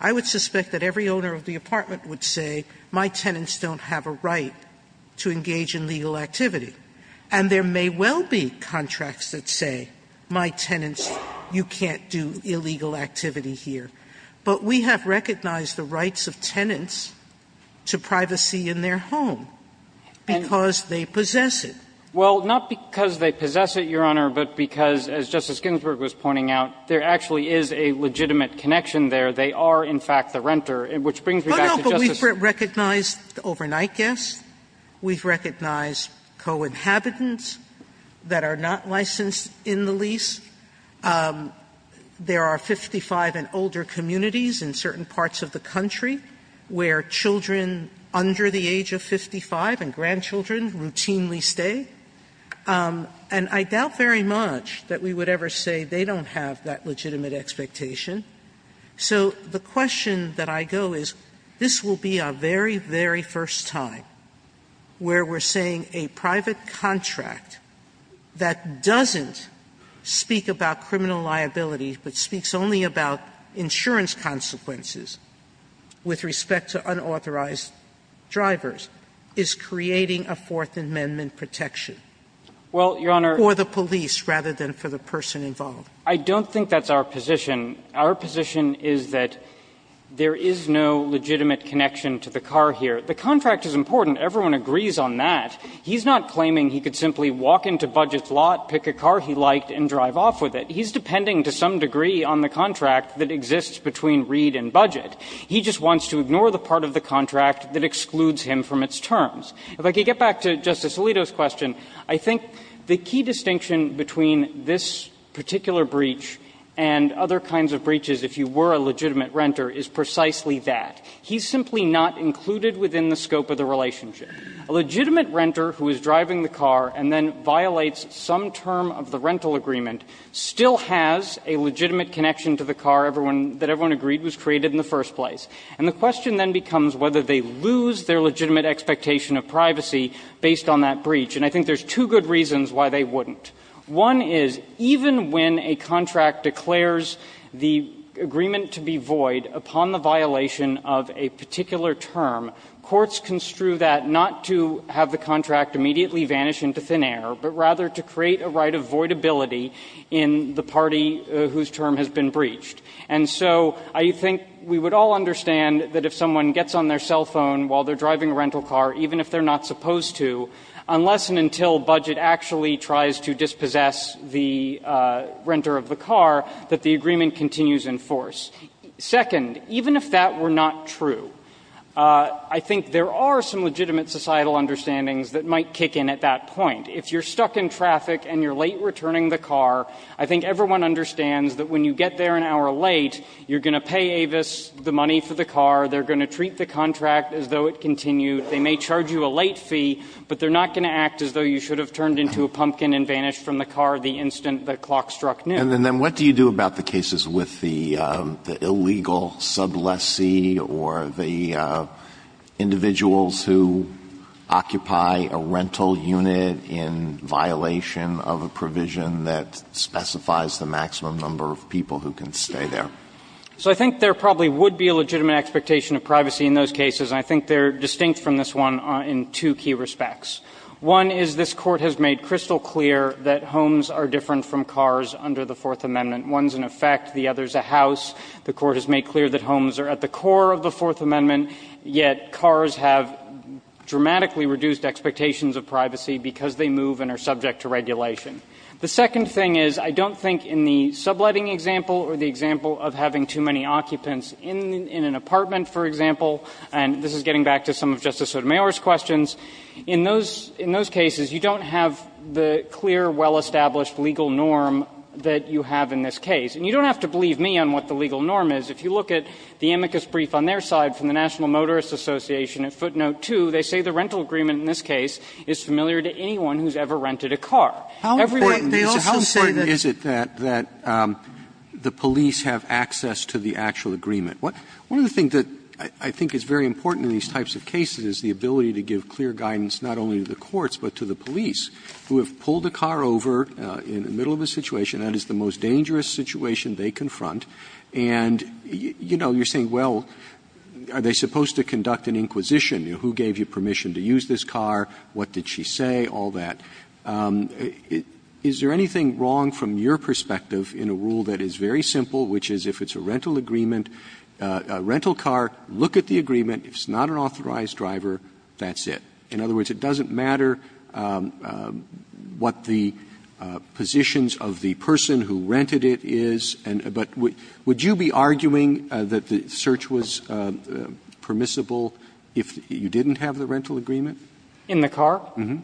I would suspect that every owner of the apartment would say, my tenants don't have a right to engage in legal activity. And there may well be contracts that say, my tenants, you can't do illegal activity here. But we have recognized the rights of tenants to privacy in their home because they possess it. Well, not because they possess it, Your Honor, but because, as Justice Ginsburg was pointing out, there actually is a legitimate connection there. They are, in fact, the renter, which brings me back to Justice — Oh, no, but we've recognized overnight guests. We've recognized co-inhabitants that are not licensed in the lease. There are 55 and older communities in certain parts of the country where children under the age of 55 and grandchildren routinely stay. And I doubt very much that we would ever say they don't have that legitimate expectation. So the question that I go is, this will be our very, very first time where we're saying a private contract that doesn't speak about criminal liability, but speaks only about insurance consequences with respect to unauthorized drivers, is creating a Fourth Amendment protection for the police rather than for the person involved. Well, Your Honor, I don't think that's our position. Our position is that there is no legitimate connection to the car here. The contract is important. Everyone agrees on that. He's not claiming he could simply walk into Budget's lot, pick a car he liked, and drive off with it. He's depending, to some degree, on the contract that exists between Reed and Budget. He just wants to ignore the part of the contract that excludes him from its terms. If I could get back to Justice Alito's question, I think the key distinction between this particular breach and other kinds of breaches, if you were a legitimate renter, is precisely that. He's simply not included within the scope of the relationship. A legitimate renter who is driving the car and then violates some term of the rental agreement still has a legitimate connection to the car that everyone agreed was created in the first place. And the question then becomes whether they lose their legitimate expectation of privacy based on that breach. And I think there's two good reasons why they wouldn't. One is, even when a contract declares the agreement to be void upon the violation of a particular term, courts construe that not to have the contract immediately vanish into thin air, but rather to create a right of voidability in the party whose term has been breached. And so I think we would all understand that if someone gets on their cell phone while they're driving a rental car, even if they're not supposed to, unless and until Budget actually tries to dispossess the renter of the car, that the agreement continues in force. Second, even if that were not true, I think there are some legitimate societal understandings that might kick in at that point. If you're stuck in traffic and you're late returning the car, I think everyone understands that when you get there an hour late, you're going to pay Avis the money for the car, they're going to treat the contract as though it continued, they may charge you a late fee, but they're not going to act as though you should have turned into a pumpkin and vanished from the car the instant the clock struck noon. And then what do you do about the cases with the illegal sub lessee or the individuals who occupy a rental unit in violation of a provision that specifies the maximum number of people who can stay there? So I think there probably would be a legitimate expectation of privacy in those cases, and I think they're distinct from this one in two key respects. One is this Court has made crystal clear that homes are different from cars under the Fourth Amendment. One's an effect, the other's a house. The Court has made clear that homes are at the core of the Fourth Amendment, yet cars have dramatically reduced expectations of privacy because they move and are subject to regulation. The second thing is, I don't think in the subletting example or the example of having too many occupants in an apartment, for example, and this is getting back to some of Justice Sotomayor's questions, in those cases you don't have the clear, well-established legal norm that you have in this case. And you don't have to believe me on what the legal norm is. If you look at the amicus brief on their side from the National Motorist Association at footnote 2, they say the rental agreement in this case is familiar to anyone who's ever rented a car. Every one of these cases. Roberts, how important is it that the police have access to the actual agreement? One of the things that I think is very important in these types of cases is the ability to give clear guidance not only to the courts, but to the police, who have pulled the car over in the middle of a situation, that is the most dangerous situation they confront, and, you know, you're saying, well, are they supposed to conduct an inquisition? You know, who gave you permission to use this car, what did she say, all that. Is there anything wrong from your perspective in a rule that is very simple, which is if it's a rental agreement, a rental car, look at the agreement, if it's not an authorized driver, that's it. In other words, it doesn't matter what the positions of the person who rented it is. But would you be arguing that the search was permissible if you didn't have the rental agreement? In the car? Mm-hmm.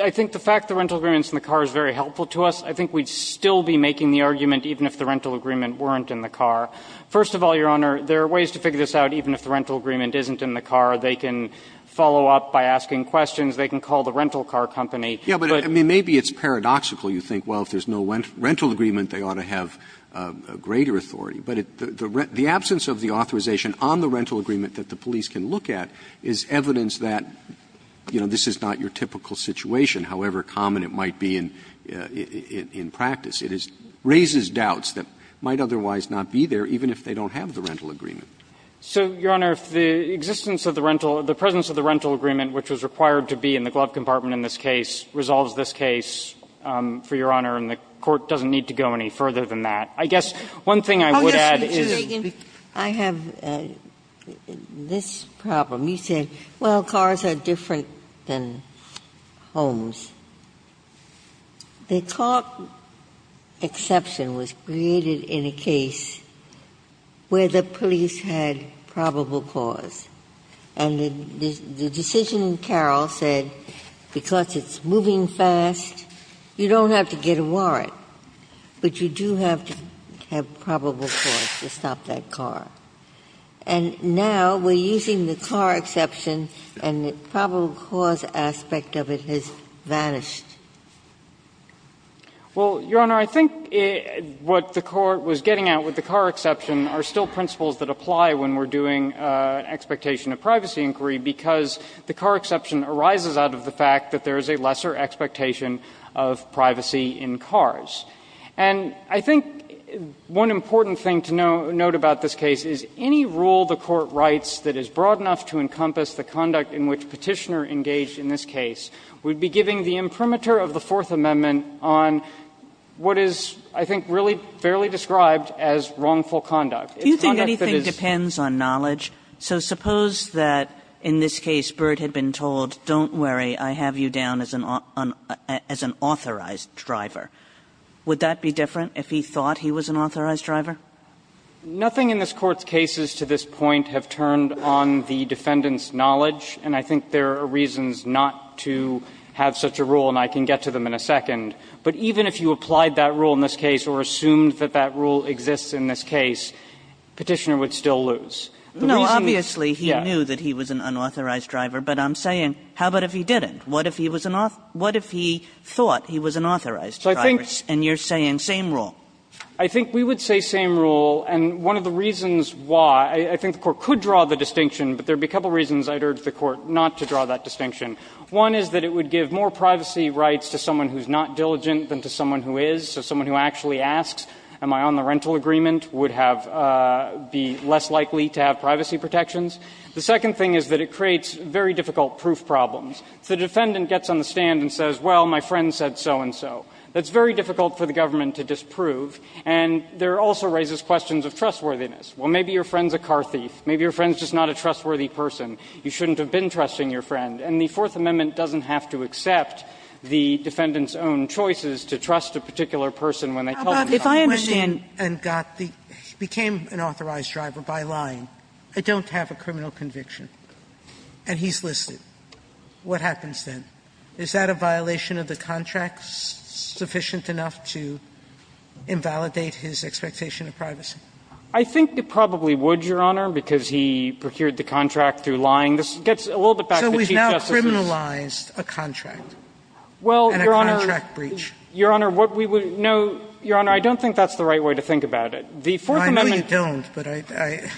I think the fact the rental agreement's in the car is very helpful to us. I think we'd still be making the argument even if the rental agreement weren't in the car. First of all, Your Honor, there are ways to figure this out even if the rental agreement isn't in the car. They can follow up by asking questions. They can call the rental car company. Yeah, but, I mean, maybe it's paradoxical. You think, well, if there's no rental agreement, they ought to have greater authority. But the absence of the authorization on the rental agreement that the police can look at is evidence that, you know, this is not your typical situation, however common it might be in practice. It raises doubts that might otherwise not be there even if they don't have the rental agreement. So, Your Honor, if the existence of the rental or the presence of the rental agreement which was required to be in the glove compartment in this case resolves this case, for Your Honor, and the Court doesn't need to go any further than that, I guess one thing I would add is that we can speak to that. I have this problem. You said, well, cars are different than homes. The car exception was created in a case where the police had probable cause. And the decision in Carroll said because it's moving fast, you don't have to get a warrant, but you do have to have probable cause to stop that car. And now we're using the car exception and the probable cause aspect of it has vanished. Well, Your Honor, I think what the Court was getting at with the car exception are still principles that apply when we're doing an expectation of privacy inquiry, because the car exception arises out of the fact that there is a lesser expectation of privacy in cars. And I think one important thing to note about this case is any rule the Court writes that is broad enough to encompass the conduct in which Petitioner engaged in this case would be giving the imprimatur of the Fourth Amendment on what is, I think, really fairly described as wrongful conduct. It's conduct that is. Kagan's depends on knowledge. So suppose that in this case, Burt had been told, don't worry, I have you down as an authorized driver. Would that be different if he thought he was an authorized driver? Feigin. Nothing in this Court's cases to this point have turned on the defendant's knowledge, and I think there are reasons not to have such a rule, and I can get to them in a second. But even if you applied that rule in this case or assumed that that rule exists in this case, Petitioner would still lose. The reason is, yes. Kagan. No, obviously he knew that he was an unauthorized driver, but I'm saying, how about if he didn't? What if he was an authorized driver? What if he thought he was an authorized driver? And you're saying same rule. Feigin. I think we would say same rule, and one of the reasons why, I think the Court could draw the distinction, but there would be a couple of reasons I'd urge the Court not to draw that distinction. One is that it would give more privacy rights to someone who's not diligent than to someone who is. So someone who actually asks, am I on the rental agreement, would have be less likely to have privacy protections. The second thing is that it creates very difficult proof problems. If the defendant gets on the stand and says, well, my friend said so-and-so, that's very difficult for the government to disprove, and there also raises questions of trustworthiness. Well, maybe your friend's a car thief. Maybe your friend's just not a trustworthy person. You shouldn't have been trusting your friend. And the Fourth Amendment doesn't have to accept the defendant's own choices to trust a particular person when they tell them about the question. Sotomayor, and got the – became an authorized driver by lying. I don't have a criminal conviction. And he's listed. What happens then? Is that a violation of the contract sufficient enough to invalidate his expectation of privacy? I think it probably would, Your Honor, because he procured the contract through lying. This gets a little bit back to the Chief Justice's – So we've now criminalized a contract and a contract breach. Well, Your Honor, what we would – no, Your Honor, I don't think that's the right way to think about it. The Fourth Amendment – I know you don't, but I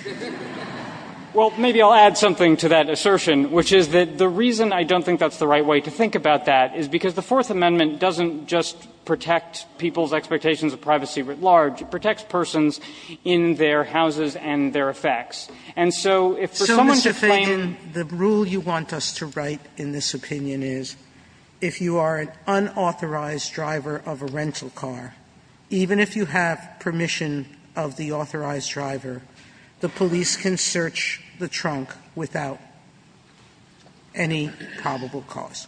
– Well, maybe I'll add something to that assertion, which is that the reason I don't think that's the right way to think about that is because the Fourth Amendment doesn't just protect people's expectations of privacy writ large. It protects persons in their houses and their effects. And so if for someone to claim – So, Mr. Feigin, the rule you want us to write in this opinion is if you are an unauthorized driver of a rental car, even if you have permission of the authorized driver, the police can search the trunk without any probable cause.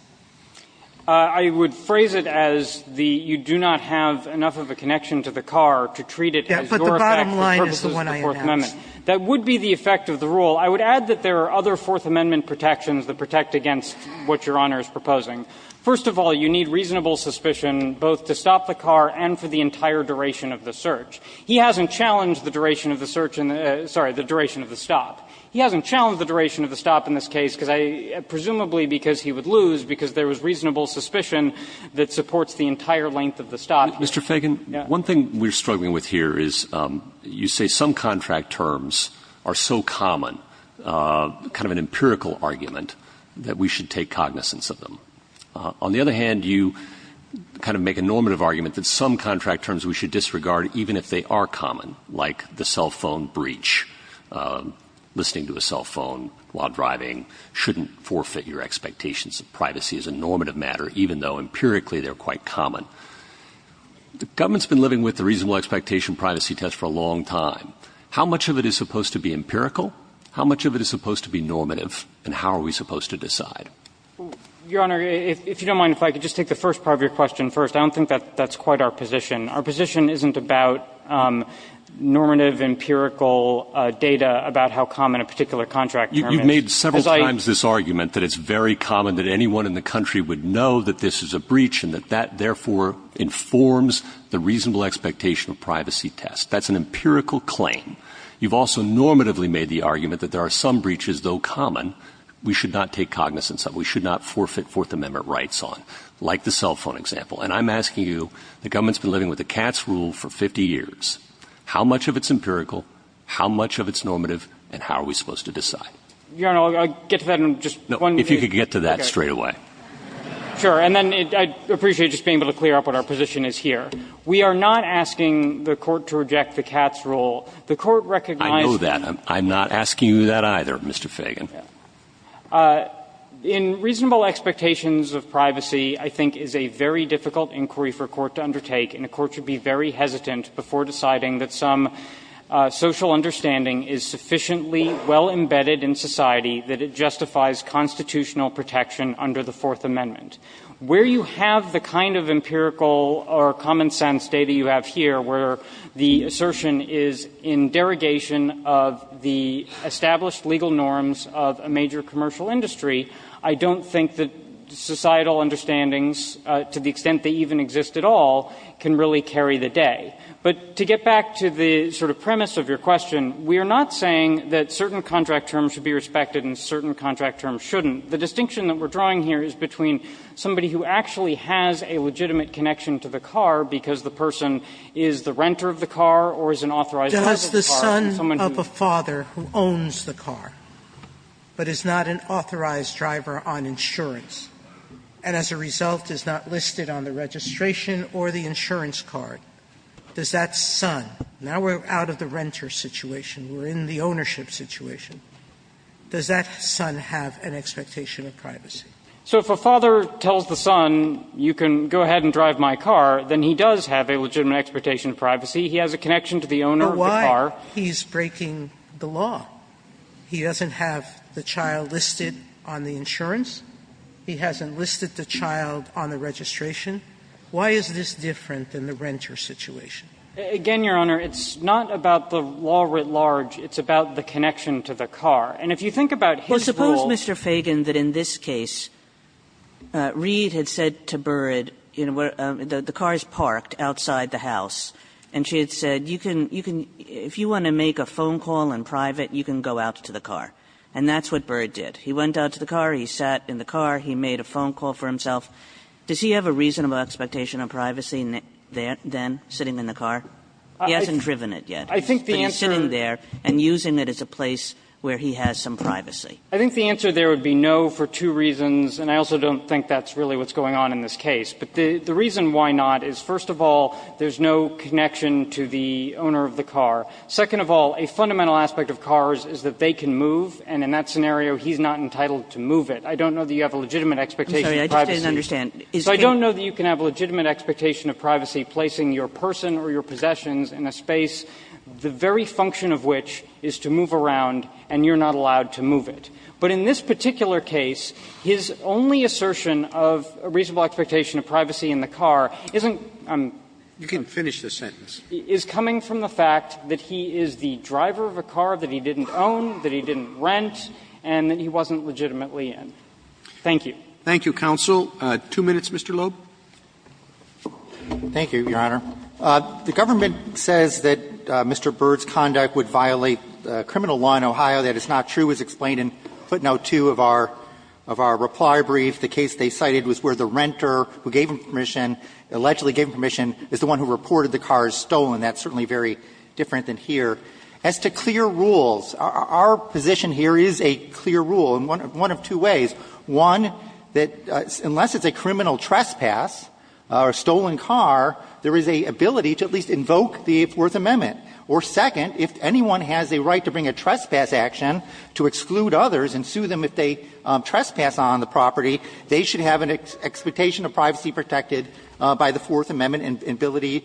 I would phrase it as the – you do not have enough of a connection to the car to treat it as your effect for purposes of the Fourth Amendment. That would be the effect of the rule. I would add that there are other Fourth Amendment protections that protect against what Your Honor is proposing. First of all, you need reasonable suspicion both to stop the car and for the entire duration of the search. He hasn't challenged the duration of the search in the – sorry, the duration of the stop. He hasn't challenged the duration of the stop in this case because I – presumably because he would lose, because there was reasonable suspicion that supports the entire length of the stop. Mr. Feigin, one thing we're struggling with here is you say some contract terms are so common, kind of an empirical argument, that we should take cognizance of them. On the other hand, you kind of make a normative argument that some contract terms we should disregard, even if they are common, like the cell phone breach. Listening to a cell phone while driving shouldn't forfeit your expectations of privacy as a normative matter, even though empirically they're quite common. The government's been living with the reasonable expectation privacy test for a long time. How much of it is supposed to be empirical, how much of it is supposed to be normative, and how are we supposed to decide? Your Honor, if you don't mind, if I could just take the first part of your question first. I don't think that that's quite our position. Our position isn't about normative, empirical data about how common a particular contract term is. Because I think you've made several times this argument, that it's very common that anyone in the country would know that this is a breach, and that that, therefore, informs the reasonable expectation of privacy test. That's an empirical claim. You've also normatively made the argument that there are some breaches, though common, we should not take cognizance of, we should not forfeit Fourth Amendment rights on, like the cell phone example. And I'm asking you, the government's been living with the Katz rule for 50 years. How much of it's empirical, how much of it's normative, and how are we supposed to decide? Your Honor, I'll get to that in just one minute. No, if you could get to that straight away. Sure. And then I'd appreciate just being able to clear up what our position is here. We are not asking the Court to reject the Katz rule. The Court recognizes that. I know that. I'm not asking you that either, Mr. Fagan. In reasonable expectations of privacy, I think, is a very difficult inquiry for a court to undertake, and a court should be very hesitant before deciding that some social understanding is sufficiently well embedded in society that it justifies constitutional protection under the Fourth Amendment. Where you have the kind of empirical or common-sense data you have here, where the of a major commercial industry, I don't think that societal understandings, to the extent they even exist at all, can really carry the day. But to get back to the sort of premise of your question, we are not saying that certain contract terms should be respected and certain contract terms shouldn't. The distinction that we're drawing here is between somebody who actually has a legitimate connection to the car because the person is the renter of the car or is an authorized driver of the car and someone who owns the car. But is not an authorized driver on insurance, and as a result is not listed on the registration or the insurance card. Does that son, now we're out of the renter situation, we're in the ownership situation, does that son have an expectation of privacy? So if a father tells the son, you can go ahead and drive my car, then he does have a legitimate expectation of privacy, he has a connection to the owner of the car. But why? He's breaking the law. He doesn't have the child listed on the insurance. He hasn't listed the child on the registration. Why is this different than the renter situation? Feigin. Again, Your Honor, it's not about the law writ large. It's about the connection to the car. And if you think about his rules. Kagan that in this case, Reed had said to Burrard, you know, the car is parked outside the house, and she had said, you can, you can, if you want to make a phone call in private, you can go out to the car. And that's what Burrard did. He went out to the car. He sat in the car. He made a phone call for himself. Does he have a reasonable expectation of privacy then, sitting in the car? He hasn't driven it yet. But he's sitting there and using it as a place where he has some privacy. Feigin. I think the answer there would be no for two reasons, and I also don't think that's really what's going on in this case. But the reason why not is, first of all, there's no connection to the owner of the car. Second of all, a fundamental aspect of cars is that they can move, and in that scenario he's not entitled to move it. I don't know that you have a legitimate expectation of privacy. Kagan. I'm sorry. I just didn't understand. So I don't know that you can have a legitimate expectation of privacy placing your person or your possessions in a space, the very function of which is to move around, and you're not allowed to move it. But in this particular case, his only assertion of a reasonable expectation of privacy in the car isn't the reason why he's not allowed to move it. He is the driver of a car that he didn't own, that he didn't rent, and that he wasn't legitimately in. Thank you. Roberts. Thank you, counsel. Two minutes, Mr. Loeb. Loeb. Thank you, Your Honor. The government says that Mr. Byrd's conduct would violate criminal law in Ohio. That is not true, as explained in footnote 2 of our reply brief. The case they cited was where the renter who gave him permission, allegedly gave him permission, is the one who reported the car is stolen. That's certainly very different than here. As to clear rules, our position here is a clear rule in one of two ways. One, that unless it's a criminal trespass or a stolen car, there is an ability to at least invoke the Fourth Amendment. Or second, if anyone has a right to bring a trespass action to exclude others and sue them if they trespass on the property, they should have an expectation of privacy protected by the Fourth Amendment and ability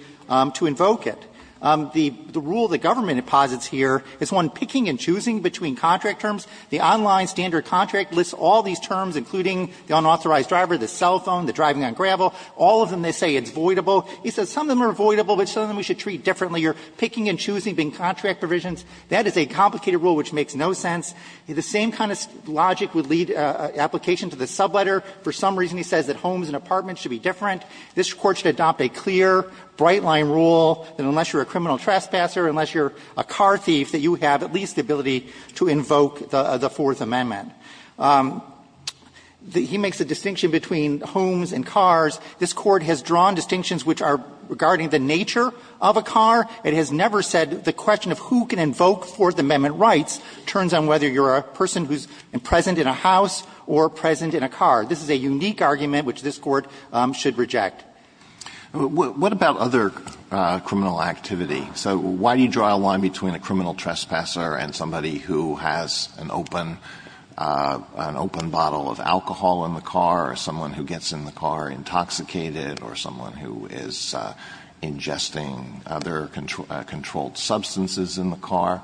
to invoke it. The rule the government deposits here is one picking and choosing between contract terms. The online standard contract lists all these terms, including the unauthorized driver, the cell phone, the driving on gravel. All of them, they say it's voidable. He says some of them are voidable, but some of them we should treat differently. You're picking and choosing between contract provisions. That is a complicated rule which makes no sense. The same kind of logic would lead application to the subletter. For some reason, he says that homes and apartments should be different. This Court should adopt a clear, bright-line rule that unless you're a criminal trespasser, unless you're a car thief, that you have at least the ability to invoke the Fourth Amendment. He makes a distinction between homes and cars. This Court has drawn distinctions which are regarding the nature of a car. It has never said the question of who can invoke Fourth Amendment rights turns on whether you're a person who's present in a house or present in a car. This is a unique argument which this Court should reject. Alitoson What about other criminal activity? So why do you draw a line between a criminal trespasser and somebody who has an open open bottle of alcohol in the car or someone who gets in the car intoxicated or someone who is ingesting other controlled substances in the car?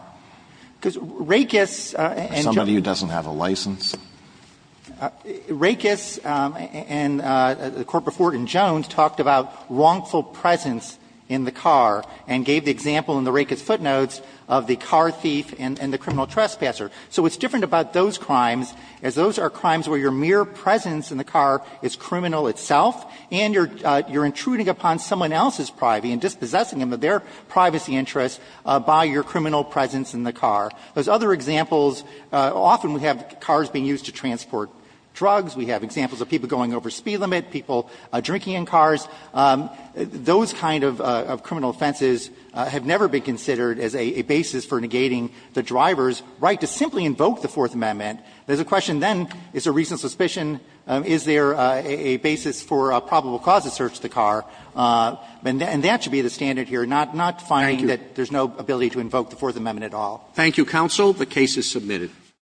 Somebody who doesn't have a license? Rakus and the Court before it in Jones talked about wrongful presence in the car and gave the example in the Rakus footnotes of the car thief and the criminal trespasser. So it's different about those crimes, as those are crimes where your mere presence in the car is criminal itself and you're intruding upon someone else's privacy and dispossessing them of their privacy interests by your criminal presence in the car. Those other examples, often we have cars being used to transport drugs. We have examples of people going over speed limit, people drinking in cars. Those kind of criminal offenses have never been considered as a basis for negating the driver's right to simply invoke the Fourth Amendment. There's a question then, is there reason, suspicion, is there a basis for probable cause to search the car? And that should be the standard here, not finding that there's no ability to invoke the Fourth Amendment at all. Thank you, counsel. The case is submitted.